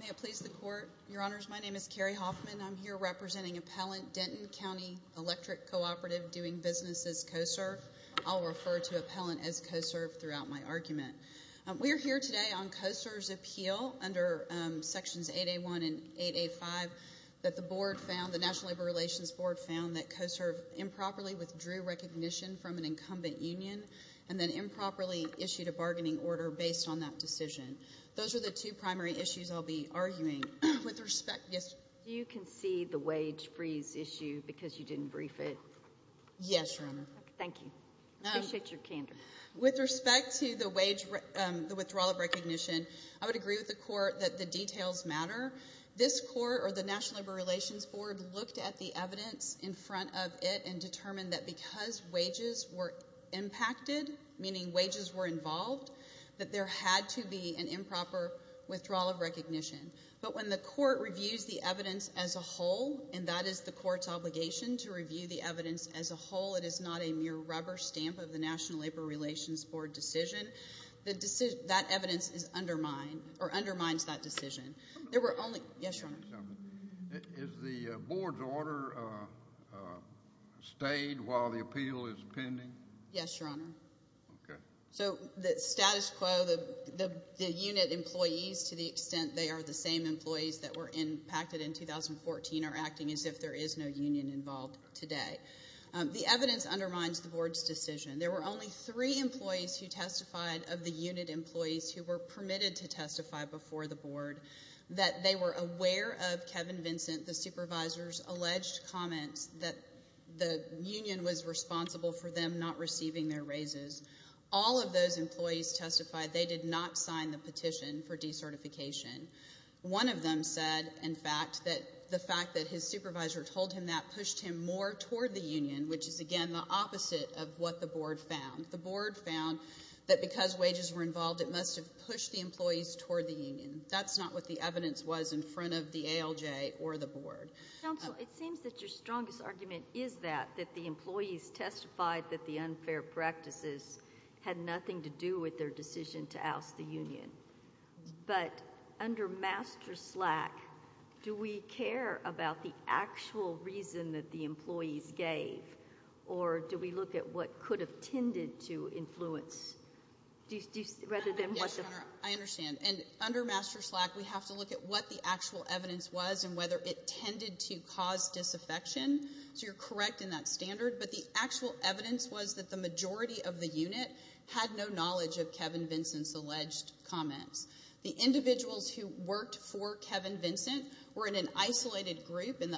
May it please the Court, Your Honors, my name is Carrie Hoffman. I'm here representing Appellant Denton County Electric Cooperative doing business as co-serve. I'll refer to Appellant as co-serve throughout my argument. We're here today on co-serve's appeal under Sections 8A1 and 8A5 that the board found, the National Labor Relations Board found, that co-serve improperly withdrew recognition from an incumbent union and then improperly issued a bargaining order based on that decision. Those are the two primary issues I'll be arguing. With respect, yes? You concede the wage freeze issue because you didn't brief it? Yes, Your Honor. Thank you. I appreciate your candor. With respect to the withdrawal of recognition, I would or the National Labor Relations Board looked at the evidence in front of it and determined that because wages were impacted, meaning wages were involved, that there had to be an improper withdrawal of recognition. But when the court reviews the evidence as a whole, and that is the court's obligation to review the evidence as a whole, it is not a mere rubber stamp of the National Labor Relations Board decision, that evidence is undermined or undermines that decision. There were only... Yes, Your Honor? Is the board's order stayed while the appeal is pending? Yes, Your Honor. Okay. So the status quo, the unit employees to the extent they are the same employees that were impacted in 2014 are acting as if there is no union involved today. The evidence undermines the board's decision. There were only three employees who testified of the unit employees who were permitted to testify before the board that they were aware of Kevin Vincent, the supervisor's, alleged comments that the union was responsible for them not receiving their raises. All of those employees testified they did not sign the petition for decertification. One of them said, in fact, that the fact that his supervisor told him that pushed him more toward the union, which is, again, the opposite of what the board found. The board found that because wages were involved, it must have pushed the employees toward the union. That's not what the evidence was in front of the ALJ or the board. Counsel, it seems that your strongest argument is that the employees testified that the unfair practices had nothing to do with their decision to oust the union. But under master slack, do we care about the actual reason that the employees gave, or do we look at what could have tended to influence, rather than what the... I understand. And under master slack, we have to look at what the actual evidence was and whether it tended to cause disaffection. So you're correct in that standard. But the actual evidence was that the majority of the unit had no knowledge of Kevin Vincent's alleged comments. The individuals who worked for Kevin Vincent were in an isolated group and the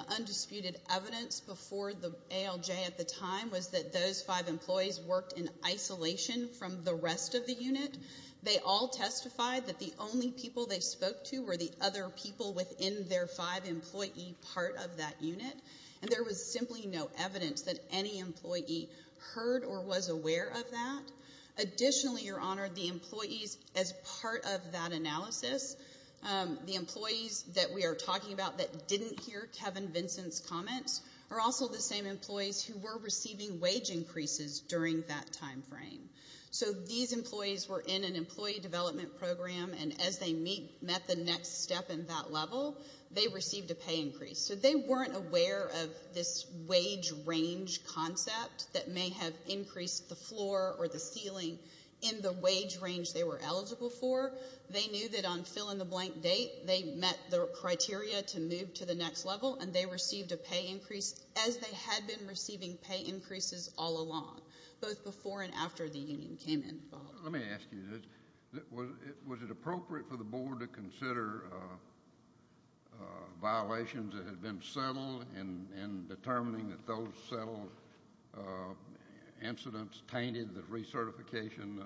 report from ALJ at the time was that those five employees worked in isolation from the rest of the unit. They all testified that the only people they spoke to were the other people within their five employee part of that unit. And there was simply no evidence that any employee heard or was aware of that. Additionally, your honor, the employees as part of that analysis, the employees that we are talking about that didn't hear Kevin Vincent's comments are also the same employees who were receiving wage increases during that time frame. So these employees were in an employee development program and as they met the next step in that level, they received a pay increase. So they weren't aware of this wage range concept that may have increased the floor or the ceiling in the wage range they were eligible for. They knew that on fill in the blank date, they met the criteria to move to the next level and they received a pay increase as they had been receiving pay increases all along, both before and after the union came in. Let me ask you this. Was it appropriate for the board to consider violations that had been settled in determining that those settled incidents tainted the recertification?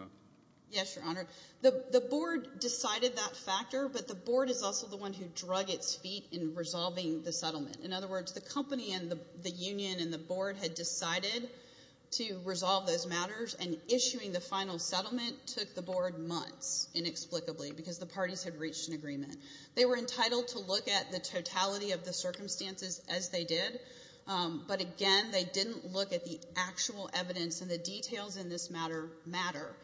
Yes, your honor. The board decided that factor, but the board is also the one who drug its feet in resolving the settlement. In other words, the company and the union and the board had decided to resolve those matters and issuing the final settlement took the board months inexplicably because the parties had reached an agreement. They were entitled to look at the totality of the circumstances as they did, but again, they didn't look at the actual evidence and the details in this matter matter.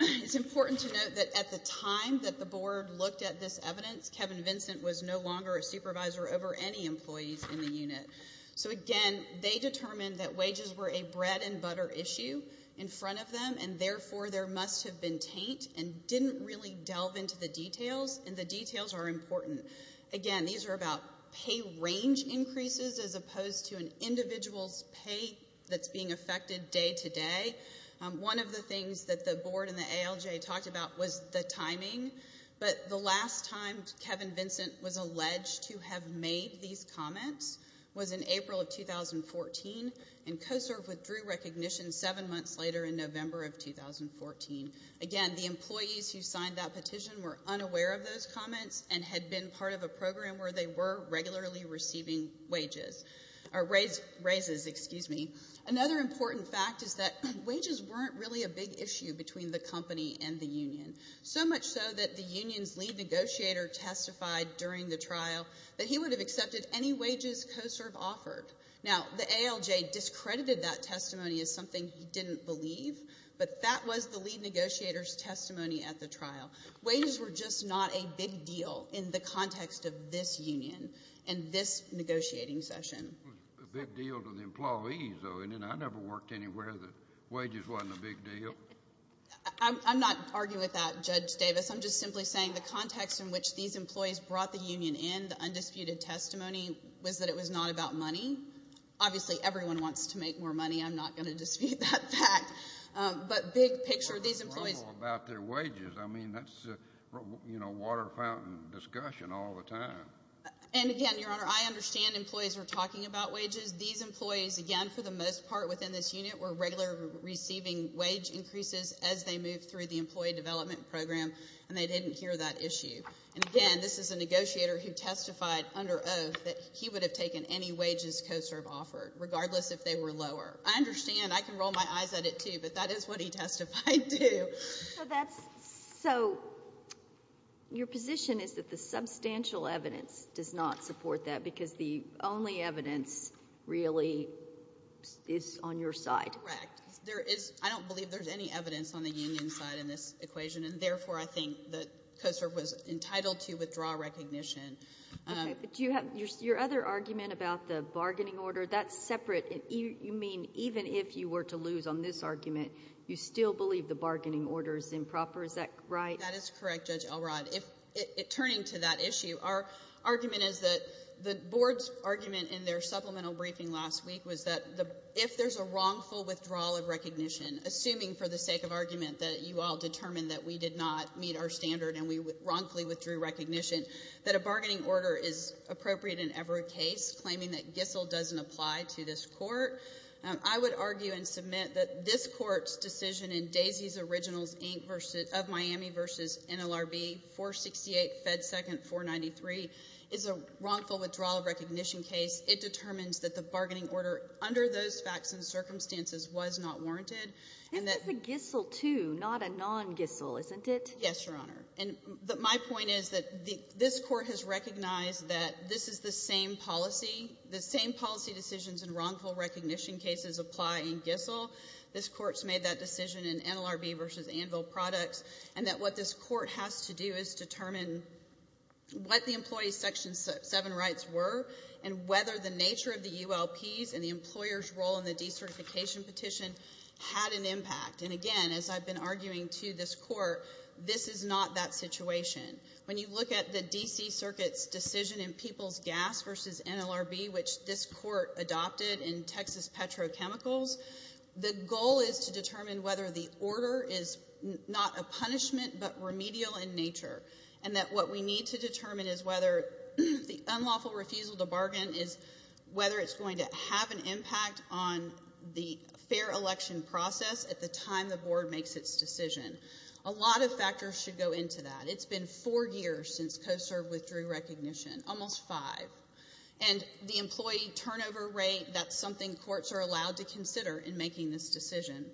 It's important to note that at the time that the board looked at this evidence, Kevin Vincent was no longer a supervisor over any employees in the unit. So again, they determined that wages were a bread and butter issue in front of them and therefore there must have been taint and didn't really delve into the details and the details are important. Again, these are about pay range increases as opposed to an individual's pay that's being affected day to day. One of the things that the board and the ALJ talked about was the timing, but the last time Kevin Vincent was alleged to have made these comments was in April of 2014 and COSERF withdrew recognition seven months later in November of 2014. Again, the employees who signed that petition were unaware of those comments and had been part of a program where they were regularly receiving raises. Another important fact is that wages weren't really a big issue between the company and the union, so much so that the union's lead negotiator testified during the trial that he would have accepted any wages COSERF offered. Now, the ALJ discredited that testimony as something he didn't believe, but that was the lead negotiator's big deal in the context of this union and this negotiating session. It was a big deal to the employees, though, isn't it? I never worked anywhere that wages wasn't a big deal. I'm not arguing with that, Judge Davis. I'm just simply saying the context in which these employees brought the union in, the undisputed testimony, was that it was not about money. Obviously, everyone wants to make more money. I'm not going to dispute that fact, but big picture, these employees... That's a water fountain discussion all the time. Again, Your Honor, I understand employees are talking about wages. These employees, again, for the most part within this unit, were regularly receiving wage increases as they moved through the employee development program, and they didn't hear that issue. Again, this is a negotiator who testified under oath that he would have taken any wages COSERF offered, regardless if they were lower. I understand. I can roll my eyes at it, too, but that is what he testified to. So, your position is that the substantial evidence does not support that because the only evidence really is on your side? Correct. I don't believe there's any evidence on the union side in this equation, and therefore, I think that COSERF was entitled to withdraw recognition. Your other argument about the bargaining order, that's separate. You mean even if you were to lose on this argument, you still believe the bargaining order is improper? Is that right? That is correct, Judge Elrod. Turning to that issue, our argument is that the board's argument in their supplemental briefing last week was that if there's a wrongful withdrawal of recognition, assuming for the sake of argument that you all determined that we did not meet our standard and we wrongfully withdrew recognition, that a bargaining order is appropriate in that GISSL doesn't apply to this court. I would argue and submit that this court's decision in Daisy's Originals Inc. of Miami v. NLRB 468 Fed 2nd 493 is a wrongful withdrawal of recognition case. It determines that the bargaining order under those facts and circumstances was not warranted. This is a GISSL, too, not a non-GISSL, isn't it? Yes, Your Honor. My point is that this court has recognized that this is the same policy, the same policy decisions in wrongful recognition cases apply in GISSL. This court's made that decision in NLRB v. Anvil Products, and that what this court has to do is determine what the employee's Section 7 rights were and whether the nature of the ULPs and the employer's role in the decertification petition had an impact. And again, as I've been arguing to this court, this is not that situation. When you look at the D.C. Circuit's decision in People's Gas v. NLRB, which this court adopted in Texas Petrochemicals, the goal is to determine whether the order is not a punishment but remedial in nature, and that what we need to determine is whether the unlawful refusal to bargain is whether it's going to have an impact on the fair election process at the time the board makes its decision. A lot of factors should go into that. It's been four years since COSERV withdrew recognition, almost five, and the employee turnover rate, that's something courts are allowed to consider in making this decision.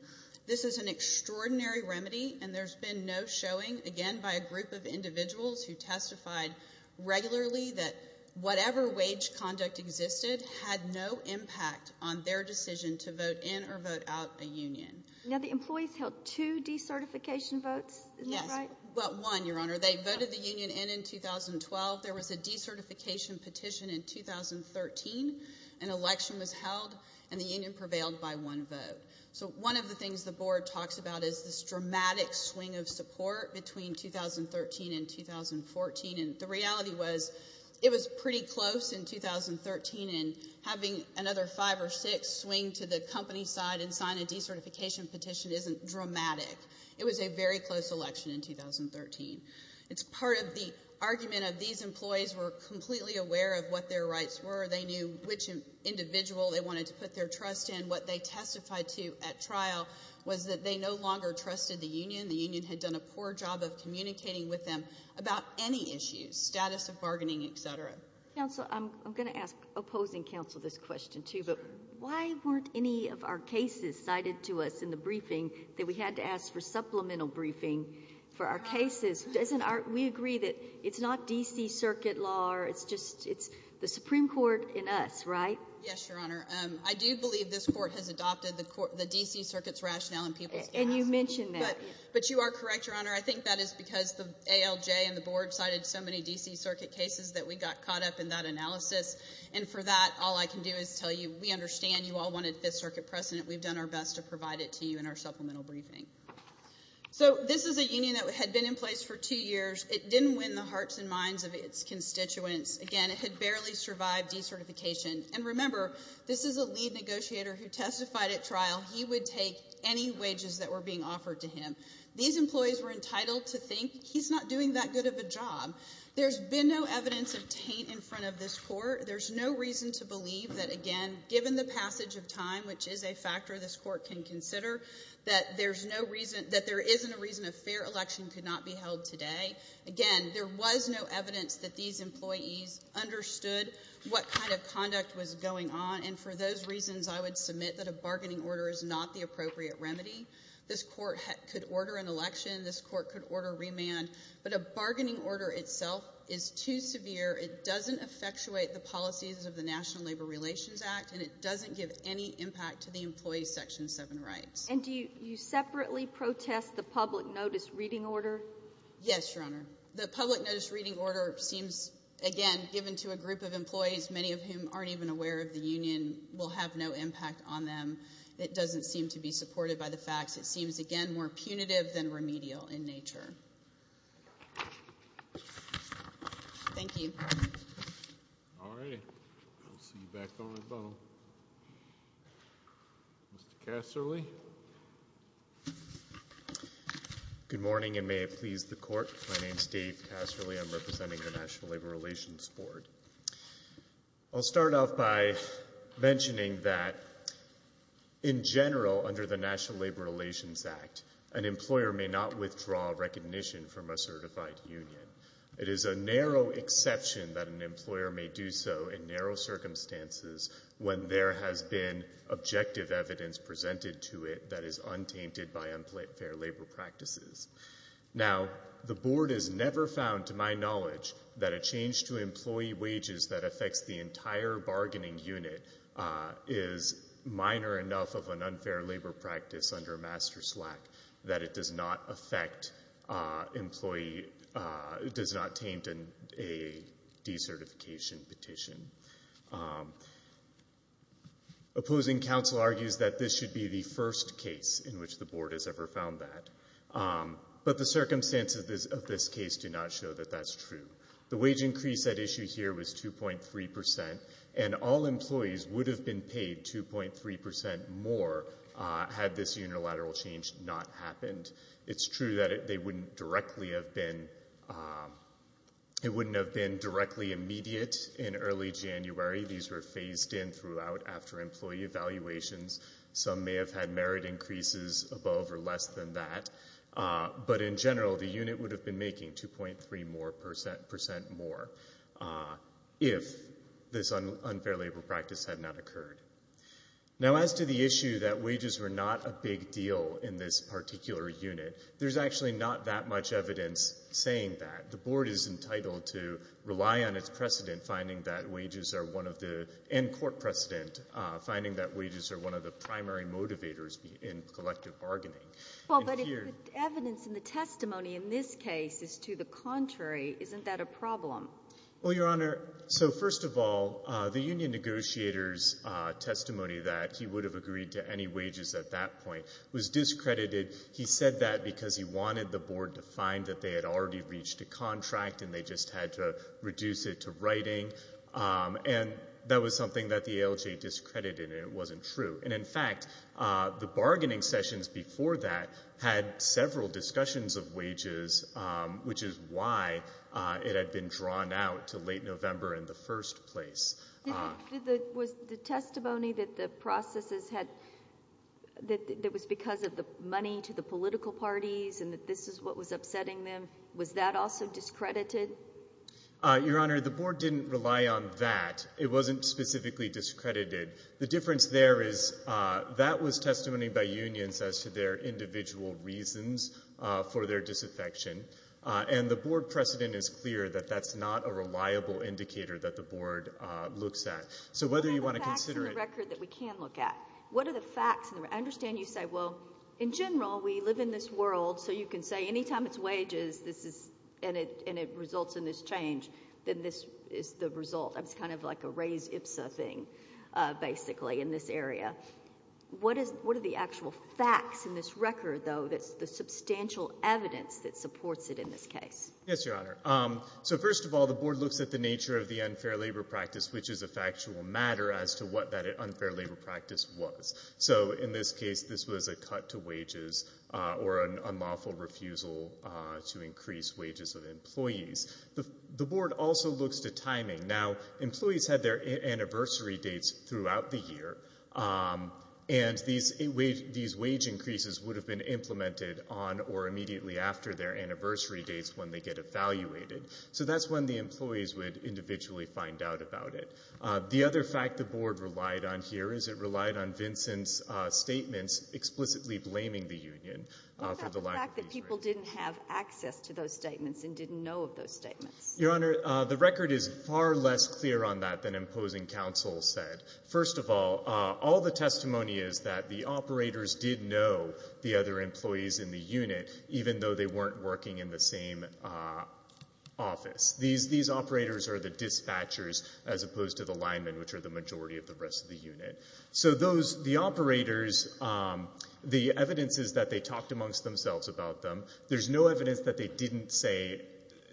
This is an extraordinary remedy, and there's been no showing, again, by a group of individuals who testified regularly that whatever wage conduct existed had no impact on their decision to vote in or vote out a union. Now, the employees held two decertification votes. Isn't that right? Well, one, Your Honor. They voted the union in in 2012. There was a decertification petition in 2013. An election was held, and the union prevailed by one vote. So one of the things the board talks about is this dramatic swing of support between 2013 and 2014, and the reality was it was pretty close in 2013, and having another five or six swing to the company side and sign a decertification petition isn't dramatic. It was a very close election in 2013. It's part of the argument of these employees were completely aware of what their rights were. They knew which individual they wanted to put their trust in. What they testified to at trial was that they no longer trusted the union. The union had done a poor job of communicating with them about any issues, status of bargaining, et cetera. Counsel, I'm going to ask opposing counsel this question, too, but why weren't any of our cases cited to us in the briefing that we had to ask for supplemental briefing for our cases? We agree that it's not D.C. Circuit law. It's the Supreme Court and us, right? Yes, Your Honor. I do believe this court has adopted the D.C. Circuit's rationale and people's demands. And you mentioned that. But you are correct, Your Honor. I think that is because the ALJ and the board cited so we got caught up in that analysis. And for that, all I can do is tell you we understand you all wanted Fifth Circuit precedent. We've done our best to provide it to you in our supplemental briefing. So this is a union that had been in place for two years. It didn't win the hearts and minds of its constituents. Again, it had barely survived decertification. And remember, this is a lead negotiator who testified at trial he would take any wages that were being offered to him. These employees were entitled to think he's not doing that good of a job. There's been no evidence of taint in front of this court. There's no reason to believe that, again, given the passage of time, which is a factor this court can consider, that there is no reason, that there isn't a reason a fair election could not be held today. Again, there was no evidence that these employees understood what kind of conduct was going on. And for those reasons, I would submit that a bargaining order is not the appropriate remedy. This court could order an election. This court could order remand. But a bargaining order itself is too severe. It doesn't effectuate the policies of the National Labor Relations Act, and it doesn't give any impact to the employees' Section 7 rights. And do you separately protest the public notice reading order? Yes, Your Honor. The public notice reading order seems, again, given to a group of employees, many of whom aren't even aware of the union, will have no impact on them. It doesn't seem to be supported by the facts. It seems, again, more punitive than remedial in nature. Thank you. All right. I'll see you back on the bone. Mr. Casserly? Good morning, and may it please the Court. My name is Dave Casserly. I'm representing the National Labor Relations Board. I'll start off by mentioning that, in general, under the National Labor Relations Act, an employer may not withdraw recognition from a certified union. It is a narrow exception that an employer may do so in narrow circumstances when there has been objective evidence presented to it that is untainted by unfair labor practices. Now, the Board has never found, to my knowledge, that a change to employee wages that affects the entire bargaining unit is minor enough of an unfair labor practice under Master Slack that it does not affect employee, does not taint a decertification petition. Opposing counsel argues that this should be the first case in which the Board has ever found that, but the circumstances of this case do not show that that's true. The wage increase at 2.3%, and all employees would have been paid 2.3% more had this unilateral change not happened. It's true that it wouldn't have been directly immediate in early January. These were phased in throughout after employee evaluations. Some may have had merit increases above or below 2.3% more if this unfair labor practice had not occurred. Now, as to the issue that wages were not a big deal in this particular unit, there's actually not that much evidence saying that. The Board is entitled to rely on its precedent finding that wages are one of the, and court precedent, finding that wages are one of the primary motivators in collective bargaining. Well, but if the evidence in the testimony in this case is to the contrary, isn't that a problem? Well, Your Honor, so first of all, the union negotiator's testimony that he would have agreed to any wages at that point was discredited. He said that because he wanted the Board to find that they had already reached a contract and they just had to reduce it to writing, and that was something that the ALJ discredited, and it wasn't true. And in fact, the bargaining sessions before that had several discussions of wages, which is why it had been drawn out to late November in the first place. Was the testimony that the processes had, that it was because of the money to the political parties and that this is what was upsetting them, was that also discredited? Your Honor, the Board didn't rely on that. It wasn't specifically discredited. The difference there is that was testimony by unions as to their individual reasons for their disaffection, and the Board precedent is clear that that's not a reliable indicator that the Board looks at. So whether you want to consider it— What are the facts in the record that we can look at? I understand you say, well, in general, we live in this world, so you can say any time it's wages and it results in this change, then this is the result. It's kind of like a Ray's IPSA thing, basically, in this area. What are the actual facts in this record, though, that's the substantial evidence that supports it in this case? Yes, Your Honor. So first of all, the Board looks at the nature of the unfair labor practice, which is a factual matter as to what that unfair labor practice was. So in this case, this was a cut to wages or an unlawful refusal to increase wages of employees. The Board also looks to timing. Now, employees had their anniversary dates throughout the year, and these wage increases would have been implemented on or immediately after their anniversary dates when they get evaluated. So that's when the employees would individually find out about it. The other fact the Board relied on here is it relied on Vincent's statements explicitly blaming the union for the lack of these rates. What about the fact that people didn't have access to those statements and didn't know of those statements? Your Honor, the record is far less clear on that than imposing counsel said. First of all, all the testimony is that the operators did know the other employees in the unit, even though they weren't working in the same office. These operators are the dispatchers as opposed to the linemen, which are the majority of the rest of the unit. So those, the operators, the evidence is that they talked amongst themselves about them. There's no evidence that they didn't say,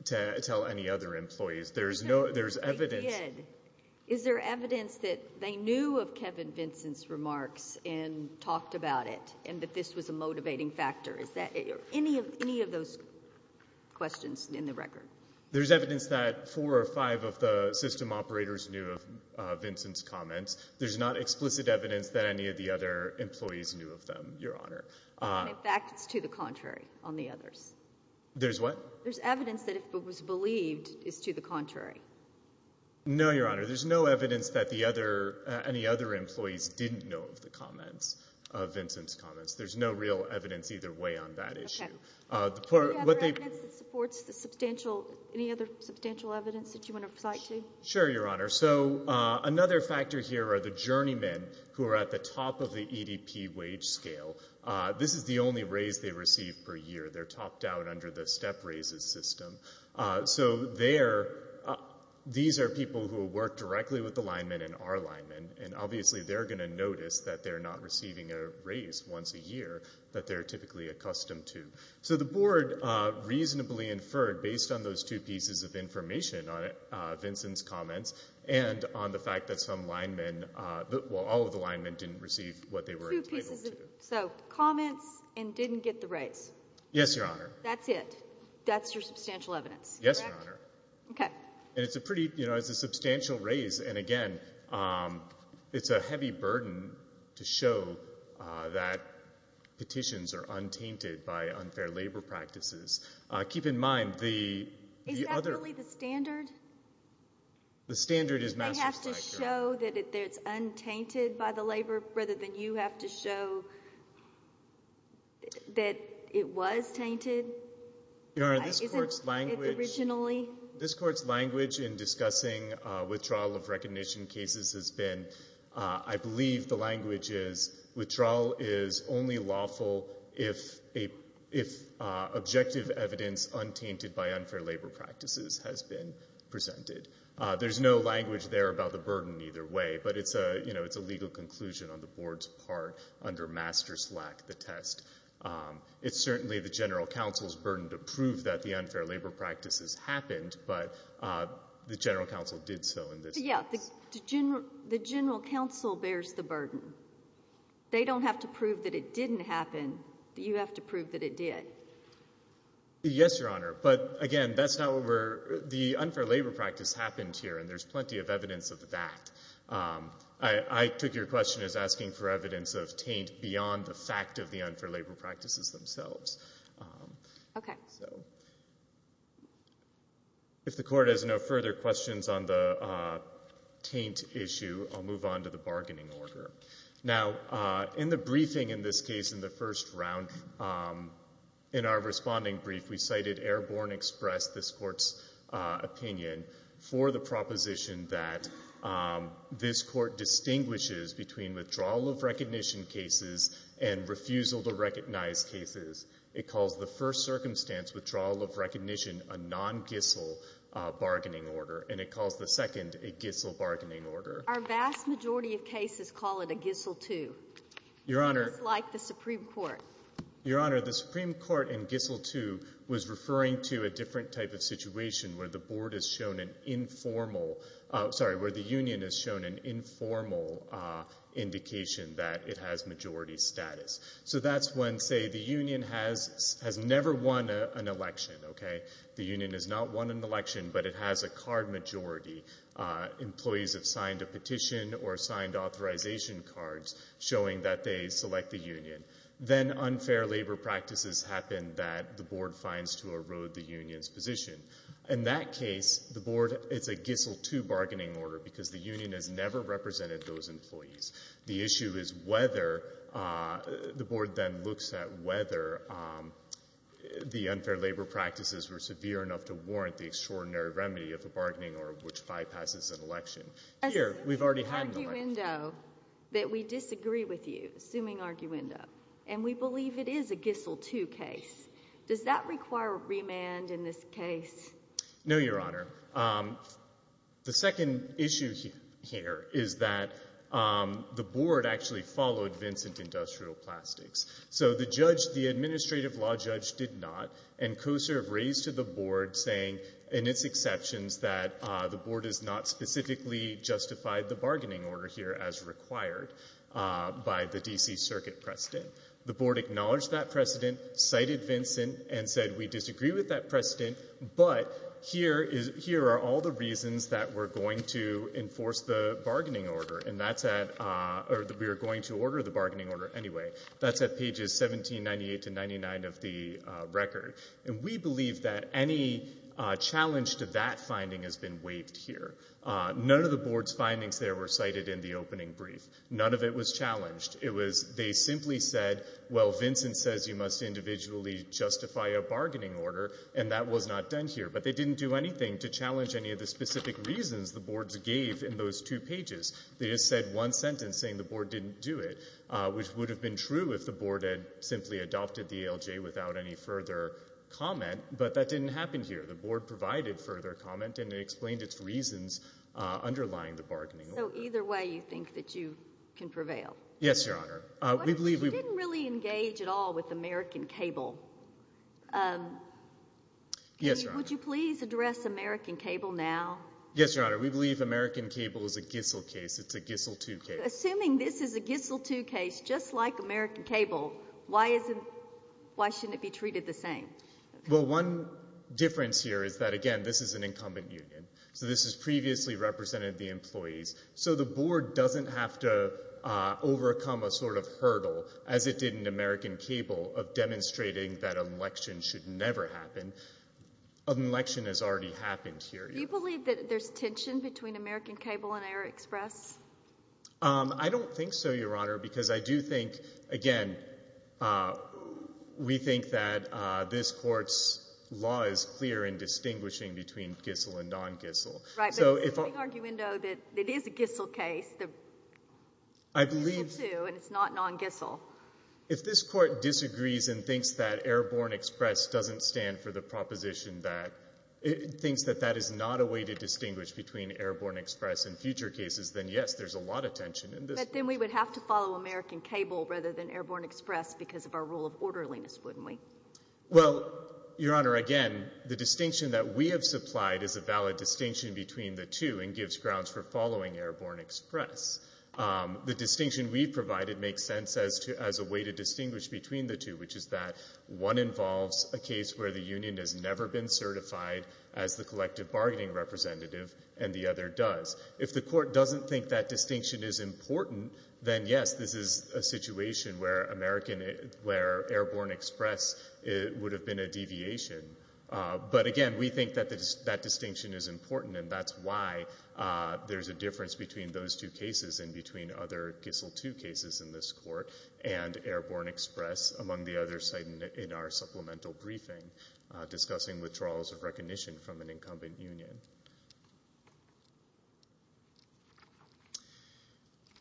tell any other employees. There's no, there's evidence. Is there evidence that they knew of Kevin Vincent's remarks and talked about it and that this was a motivating factor? Is that, any of those questions in the record? There's evidence that four or five of the system operators knew of Vincent's comments. There's not explicit evidence that any of the other employees knew of them, Your Honor. In fact, it's to the contrary on the others. There's what? There's evidence that if it was believed, it's to the contrary. No, Your Honor. There's no evidence that the other, any other employees didn't know of the comments, of Vincent's comments. There's no real evidence either way on that issue. Do you have evidence that supports the substantial, any other substantial evidence that you want to cite? Sure, Your Honor. So another factor here are the journeymen who are at the top of the EDP wage scale. This is the only raise they receive per year. They're topped out under the step raises system. So they're, these are people who work directly with the linemen and are linemen and obviously they're going to notice that they're not receiving a raise once a year. So the board reasonably inferred based on those two pieces of information on Vincent's comments and on the fact that some linemen, well, all of the linemen didn't receive what they were entitled to. So comments and didn't get the raise. Yes, Your Honor. That's it. That's your substantial evidence. Yes, Your Honor. Okay. And it's a pretty, you know, it's a substantial raise. And again, it's a heavy burden to show that petitions are untainted by unfair labor practices. Keep in mind the other... Is that really the standard? The standard is massive size, Your Honor. Do they have to show that it's untainted by the labor rather than you have to show that it was tainted originally? Your Honor, this court's language in discussing withdrawal of recognition cases has been, I believe the language is, withdrawal is only lawful if objective evidence untainted by unfair labor practices has been presented. There's no language there about the burden either way, but it's a, you know, it's a legal conclusion on the board's part under master slack the test. It's certainly the general counsel's burden to prove that the unfair labor practices happened, but the general counsel did so in this case. Yeah, the general counsel bears the burden. They don't have to prove that it didn't happen. You have to prove that it did. Yes, Your Honor. But again, that's not where the unfair labor practice happened here, and there's plenty of evidence of that. I took your question as asking for evidence of taint beyond the fact of the unfair labor practices themselves. Okay. If the court has no further questions on the taint issue, I'll move on to the bargaining order. Now, in the briefing in this case, in the first round, in our responding brief, we cited Airborne Express, this court's opinion, for the proposition that this court distinguishes between withdrawal of recognition cases and refusal to recognize cases. It calls the first circumstance, withdrawal of recognition, a non-GISL bargaining order, and it calls the second a GISL bargaining order. Our vast majority of cases call it a GISL 2, just like the Supreme Court. Your Honor, the Supreme Court in GISL 2 was referring to a different type of situation where the board has shown an informal, sorry, where the union has shown an informal indication that it has majority status. So that's when, say, the union has never won an election, okay? The union has not won an election, but it has a card majority. Employees have signed a petition or signed authorization cards showing that they select the union. Then unfair labor practices happen that the board finds to erode the union's position. In that case, the board, it's a GISL 2 bargaining order because the union has never represented those employees. The issue is whether, the board then looks at whether the unfair labor practices were severe enough to warrant the extraordinary remedy of a bargaining order which bypasses an election. As an arguendo, that we disagree with you, assuming arguendo, and we believe it is a GISL 2 case, does that require remand in this case? No, Your Honor. The second issue here is that the board actually followed Vincent Industrial Plastics. So the judge, the administrative law judge, did not, and COSER have raised to the board saying, in its exceptions, that the board has not specifically justified the bargaining order here as required by the D.C. Circuit precedent. The board acknowledged that precedent, cited Vincent, and said, we disagree with that precedent, but here are all the reasons that we're going to enforce the bargaining order, and that's at, or we are going to order the bargaining order anyway. That's at pages 1798 to 99 of the record. We believe that any challenge to that finding has been waived here. None of the board's findings there were cited in the opening brief. None of it was challenged. It was, they simply said, well, Vincent says you must individually justify a bargaining order, and that was not done here, but they didn't do anything to challenge any of the specific reasons the board gave in those two pages. They just said one sentence saying the board didn't do it, which would have been true if the board had simply adopted the ALJ without any further comment, but that didn't happen here. The board provided further comment, and it explained its reasons underlying the bargaining order. So either way, you think that you can prevail? Yes, Your Honor. We believe we But you didn't really engage at all with American Cable. Yes, Your Honor. Would you please address American Cable now? Yes, Your Honor. We believe American Cable is a Gissel case. It's a Gissel 2 case. Assuming this is a Gissel 2 case, just like American Cable, why shouldn't it be treated the same? Well, one difference here is that, again, this is an incumbent union, so this has previously represented the employees. So the board doesn't have to overcome a sort of hurdle, as it did in American Cable, of demonstrating that an election should never happen. An election has already happened here. Do you believe that there's tension between American Cable and Air Express? I don't think so, Your Honor, because I do think, again, we think that this court's law is clear in distinguishing between Gissel and non-Gissel. Right, but there's a big argument that it is a Gissel case. It's a Gissel 2, and it's not non-Gissel. If this court disagrees and thinks that Airborne Express doesn't stand for the proposition that, thinks that that is not a way to distinguish between Airborne Express and future cases, then yes, there's a lot of tension in this case. But then we would have to follow American Cable rather than Airborne Express because of our rule of orderliness, wouldn't we? Well, Your Honor, again, the distinction that we have supplied is a valid distinction between the two and gives grounds for following Airborne Express. The distinction we've provided makes sense as a way to distinguish between the two, which is that one involves a case where the union has never been certified as the collective bargaining representative, and the other does. If the court doesn't think that distinction is important, then yes, this is a situation where Airborne Express would have been a deviation. But again, we think that that distinction is important, and that's why there's a difference between those two cases and between other Gissel 2 cases in this court and Airborne Express, among the others cited in our supplemental briefing discussing withdrawals of recognition from an incumbent union.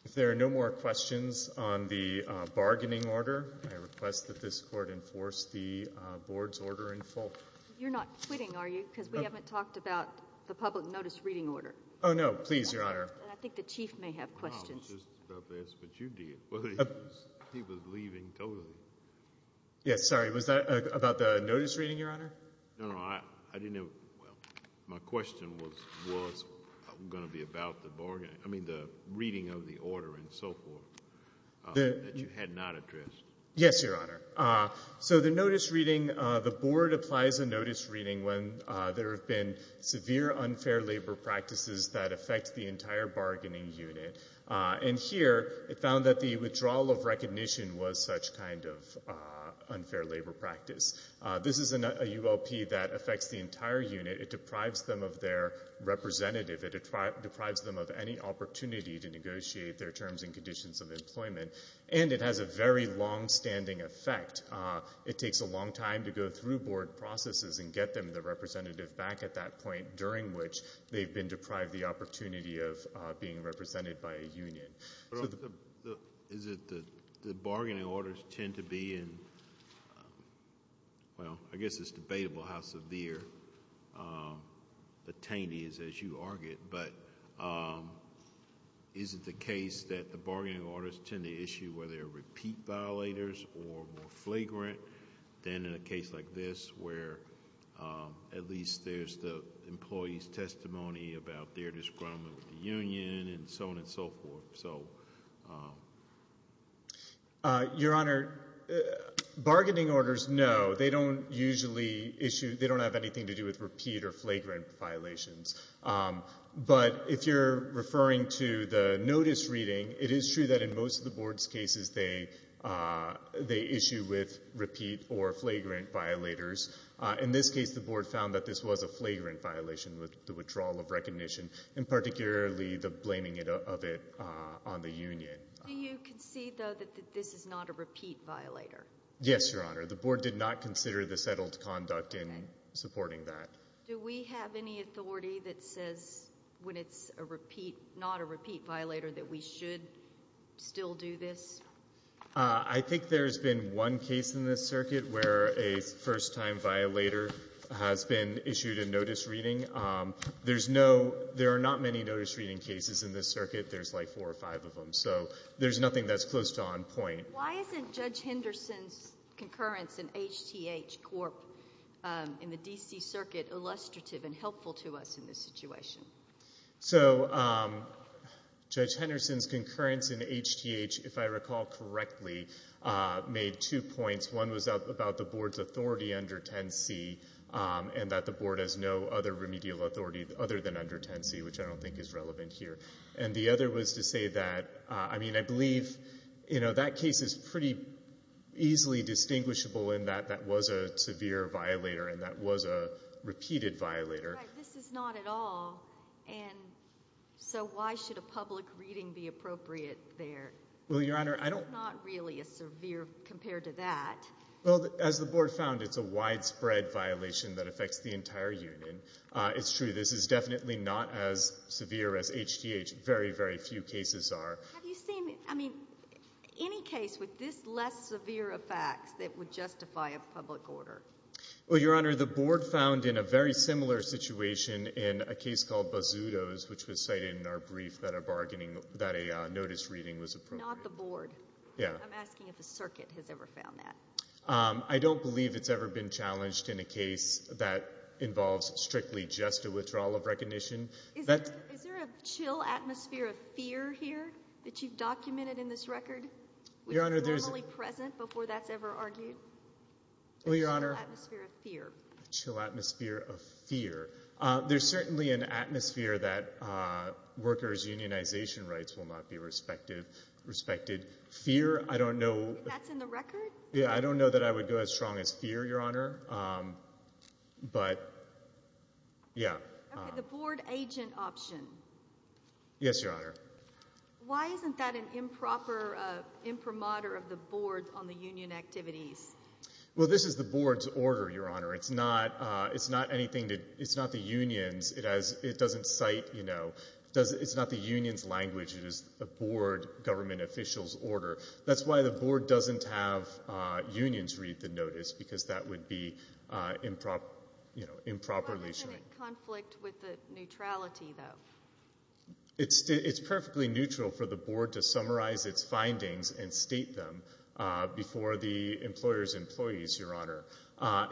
If there are no more questions on the bargaining order, I request that this court enforce the board's order in full. You're not quitting, are you? No. Because we haven't talked about the public notice reading order. Oh, no. Please, Your Honor. And I think the Chief may have questions. No, I was just about to ask what you did. He was leaving totally. Yes, sorry. Was that about the notice reading, Your Honor? No, no. My question was going to be about the reading of the order and so forth that you had not addressed. Yes, Your Honor. So the notice reading, the board applies a notice reading when there have been severe unfair labor practices that affect the entire bargaining unit. And here, it found that the withdrawal of recognition was such kind of unfair labor practice. This is a ULP that affects the entire unit. It deprives them of their representative. It deprives them of any opportunity to negotiate their terms and conditions of employment. And it has a very longstanding effect. It takes a long time to go through board processes and get them, the representative, back at that point during which they've been deprived the opportunity of being represented by a union. Is it the bargaining orders tend to be in... Well, I guess it's debatable how severe the taint is, as you argued, but is it the case that the bargaining orders tend to issue where there are repeat violators or more flagrant than in a case like this where at least there's the employee's testimony about their disagreement with the union and so on and so forth? Your Honor, bargaining orders, no. They don't usually issue... they don't have anything to do with repeat or flagrant violations. But if you're referring to the notice reading, it is true that in most of the board's cases, they issue with repeat or flagrant violators. In this case, the board found that this was a flagrant violation with the withdrawal of recognition and particularly the blaming of it on the union. Do you concede, though, that this is not a repeat violator? Yes, Your Honor. The board did not consider the settled conduct in supporting that. Do we have any authority that says when it's not a repeat violator that we should still do this? I think there's been one case in this circuit where a first-time violator has been issued a notice reading. There's no... there are not many notice reading cases in this circuit. There's like four or five of them. So there's nothing that's close to on point. Why isn't Judge Henderson's concurrence in HTH Corp. in the D.C. Circuit illustrative and helpful to us in this situation? So Judge Henderson's concurrence in HTH, if I recall correctly, made two points. One was about the board's authority under 10C and that the board has no other remedial authority other than under 10C, which I don't think is relevant here. And the other was to say that, I mean, I believe that case is pretty easily distinguishable in that that was a severe violator and that was a repeated violator. Right. This is not at all. And so why should a public reading be appropriate there? Well, Your Honor, I don't... They're not really as severe compared to that. Well, as the board found, it's a widespread violation that affects the entire union. It's true. This is definitely not as severe as HTH. Very, very few cases are. Have you seen... I mean, any case with this less severe of facts that would justify a public order? Well, Your Honor, the board found in a very similar situation in a case called Bazzuto's, which was cited in our brief that a notice reading was appropriate. Not the board. Yeah. I'm asking if the circuit has ever found that. I don't believe it's ever been challenged in a case that involves strictly just a withdrawal of recognition. Is there a chill atmosphere of fear here that you've documented in this record? Your Honor, there's... Which is normally present before that's ever argued? Well, Your Honor... A chill atmosphere of fear. A chill atmosphere of fear. There's certainly an atmosphere that workers' unionization rights will not be respected. Fear, I don't know... That's in the record? Yeah. I don't know that I would go as strong as fear, Your Honor, but, yeah. Okay. The board agent option. Yes, Your Honor. Why isn't that an improper imprimatur of the board on the union activities? Well, this is the board's order, Your Honor. It's not anything... It's not the union's. It doesn't cite... It's not the union's language. It is the board government official's order. That's why the board doesn't have unions read the notice, because that would be improperly... How much of a conflict with the neutrality, though? It's perfectly neutral for the board to summarize its findings and state them before the employer's employees, Your Honor.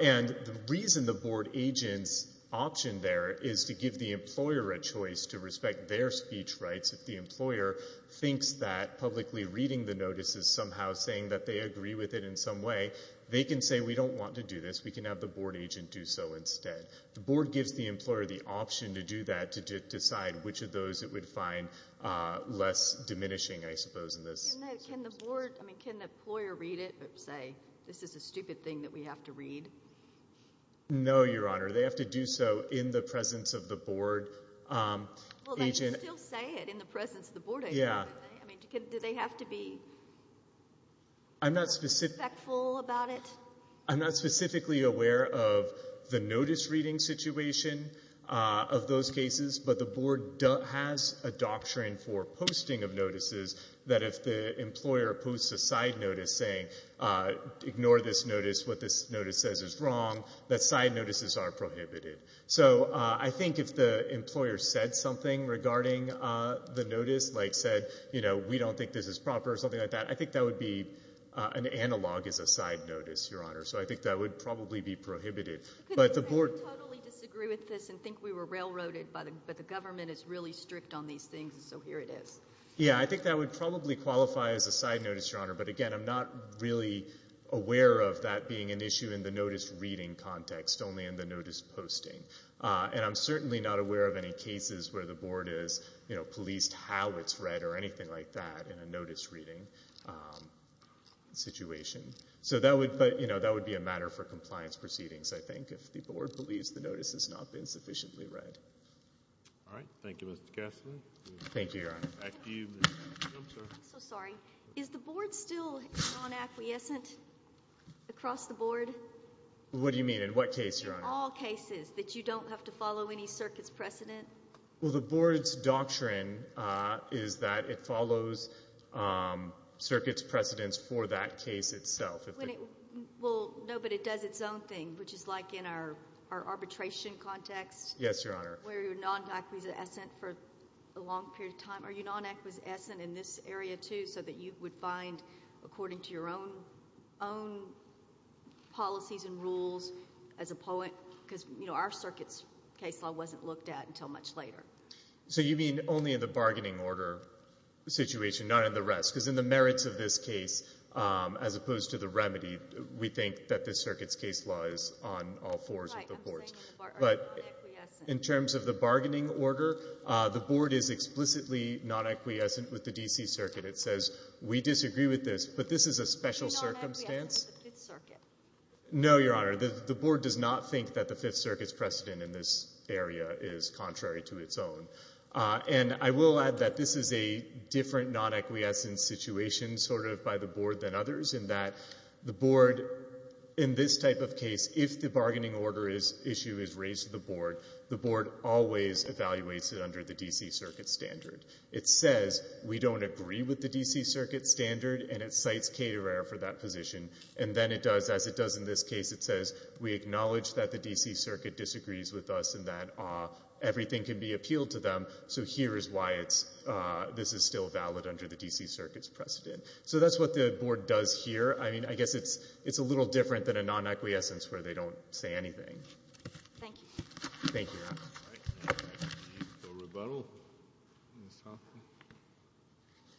And the reason the board agent's option there is to give the employer a choice to respect their speech rights if the employer thinks that publicly reading the notice is somehow saying that they agree with it in some way, they can say, We don't want to do this. We can have the board agent do so instead. The board gives the employer the option to do that, to decide which of those it would find less diminishing, I suppose, in this circumstance. Can the board... I mean, can the employer read it, but say, This is a stupid thing that we have to read? No, Your Honor. They have to do so in the presence of the board agent. Well, they can still say it in the presence of the board agent. Yeah. I mean, do they have to be... I'm not specific...... respectful about it? I'm not specifically aware of the notice reading situation of those cases, but the board has a doctrine for posting of notices that if the employer posts a side notice saying, Ignore this notice. What this notice says is wrong, that side notices are prohibited. So I think if the employer said something regarding the notice, like said, We don't think this is proper or something like that, I think that would be an analog as a side notice, Your Honor. So I think that would probably be prohibited. But the board... I totally disagree with this and think we were railroaded, but the government is really strict on these things, so here it is. Yeah, I think that would probably qualify as a side notice, Your Honor. But again, I'm not really aware of that being an issue in the notice reading context, only in the notice posting. And I'm certainly not aware of any cases where the board has policed how it's like that in a notice reading situation. So that would be a matter for compliance proceedings, I think, if the board believes the notice has not been sufficiently read. All right. Thank you, Mr. Kessler. Thank you, Your Honor. Back to you, Mr. Kessler. I'm so sorry. Is the board still non-acquiescent across the board? What do you mean? In what case, Your Honor? All cases that you don't have to follow any circuit's precedent. Well, the board's doctrine is that it follows circuit's precedents for that case itself. Well, no, but it does its own thing, which is like in our arbitration context. Yes, Your Honor. Where you're non-acquiescent for a long period of time. Are you non-acquiescent in this area, too, so that you would find, according to your own policies and rules as a poet, because our circuit's case law wasn't looked at until much later? So you mean only in the bargaining order situation, not in the rest? Because in the merits of this case, as opposed to the remedy, we think that this circuit's case law is on all fours of the boards. Right. I'm saying in the bargaining order. In terms of the bargaining order, the board is explicitly non-acquiescent with the D.C. Circuit. It says, we disagree with this, but this is a special circumstance. Are you non-acquiescent with the Fifth Circuit? No, Your Honor. The board does not think that the Fifth Circuit's precedent in this area is contrary to its own. And I will add that this is a different non-acquiescent situation, sort of, by the board than others, in that the board, in this type of case, if the bargaining order issue is raised to the board, the board always evaluates it under the D.C. Circuit standard. It says, we don't agree with the D.C. Circuit standard, and it cites for that position. And then it does, as it does in this case, it says, we acknowledge that the D.C. Circuit disagrees with us and that everything can be appealed to them. So here is why it's, this is still valid under the D.C. Circuit's precedent. So that's what the board does here. I mean, I guess it's a little different than a non-acquiescence where they don't say anything. Thank you. Thank you, Your Honor. All right. Any further rebuttal? Ms.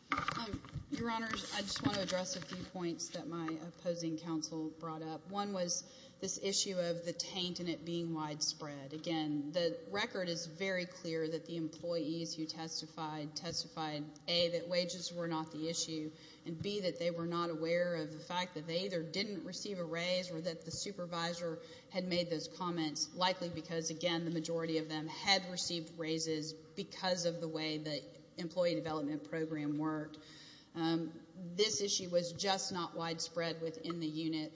Thompson? Your Honor, I just want to address a few points that my opposing counsel brought up. One was this issue of the taint and it being widespread. Again, the record is very clear that the employees who testified testified, A, that wages were not the issue, and B, that they were not aware of the fact that they either didn't receive a raise or that the supervisor had made those comments, likely because, again, the majority of them had received raises because of the way that the employee development program worked. This issue was just not widespread within the unit.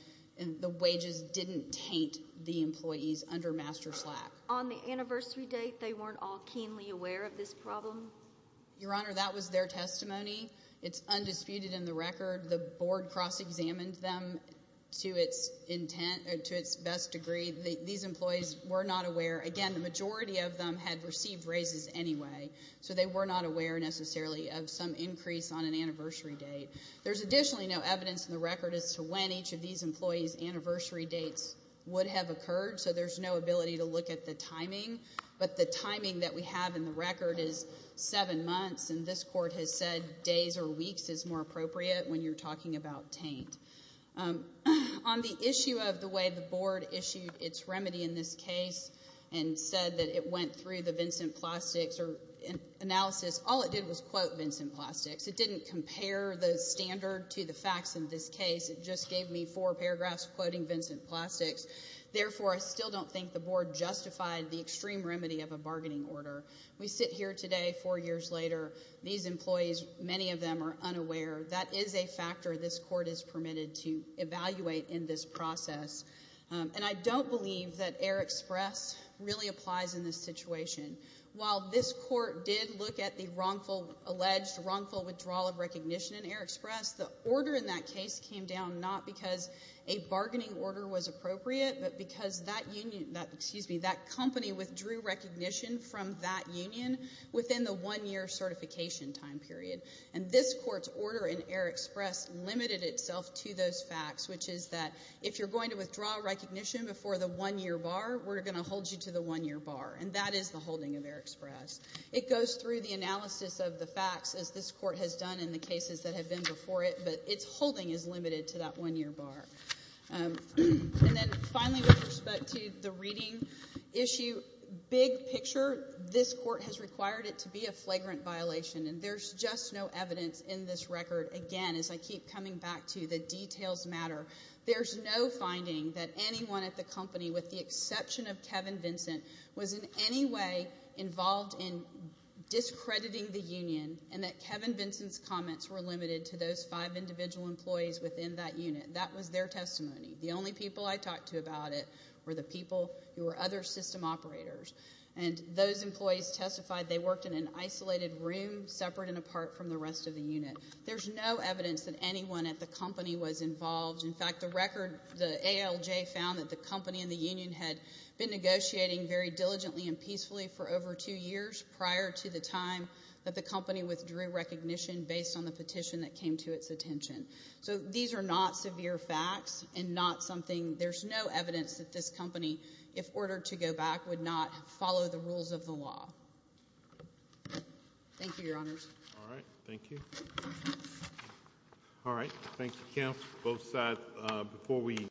The wages didn't taint the employees under Master Slack. On the anniversary date, they weren't all keenly aware of this problem? Your Honor, that was their testimony. It's undisputed in the record. The board cross-examined them to its intent, to its best degree. These employees were not aware. Again, the majority of them had received raises anyway. So they were not aware, necessarily, of some increase on an anniversary date. There's additionally no evidence in the record as to when each of these employees' anniversary dates would have occurred, so there's no ability to look at the timing. But the timing that we have in the record is seven months, and this court has said days or weeks is more appropriate when you're talking about taint. On the issue of the way the board issued its remedy in this case and said that it went through the Vincent Plastics or analysis, all it did was quote Vincent Plastics. It didn't compare the standard to the facts in this case. It just gave me four paragraphs quoting Vincent Plastics. Therefore, I still don't think the board justified the extreme remedy of a bargaining order. We sit here today, four years later, these employees, many of them are unaware. That is a factor this court has permitted to evaluate in this process. And I don't believe that Air Express really applies in this situation. While this court did look at the wrongful, alleged wrongful withdrawal of recognition in Air Express, the order in that case came down not because a bargaining order was appropriate, but because that union, excuse me, that company withdrew recognition from that union within the one-year certification time period. And this court's order in Air Express limited itself to those who withdraw recognition before the one-year bar were going to hold you to the one-year bar. And that is the holding of Air Express. It goes through the analysis of the facts as this court has done in the cases that have been before it, but its holding is limited to that one-year bar. And then finally, with respect to the reading issue, big picture, this court has required it to be a flagrant violation. And there's just no evidence in this record. Again, as I keep coming back to, the details matter. There's no finding that anyone at the company, with the exception of Kevin Vincent, was in any way involved in discrediting the union and that Kevin Vincent's comments were limited to those five individual employees within that unit. That was their testimony. The only people I talked to about it were the people who were other system operators. And those employees testified they worked in an isolated room separate and apart from the rest of the unit. There's no evidence that anyone at the company was involved in that. In fact, the record, the ALJ found that the company and the union had been negotiating very diligently and peacefully for over two years prior to the time that the company withdrew recognition based on the petition that came to its attention. So these are not severe facts and not something, there's no evidence that this company, if ordered to go back, would not follow the rules of the law. Thank you, Your Honors. All right. Thank you. All right. Thank you, Kim. Both sides, before we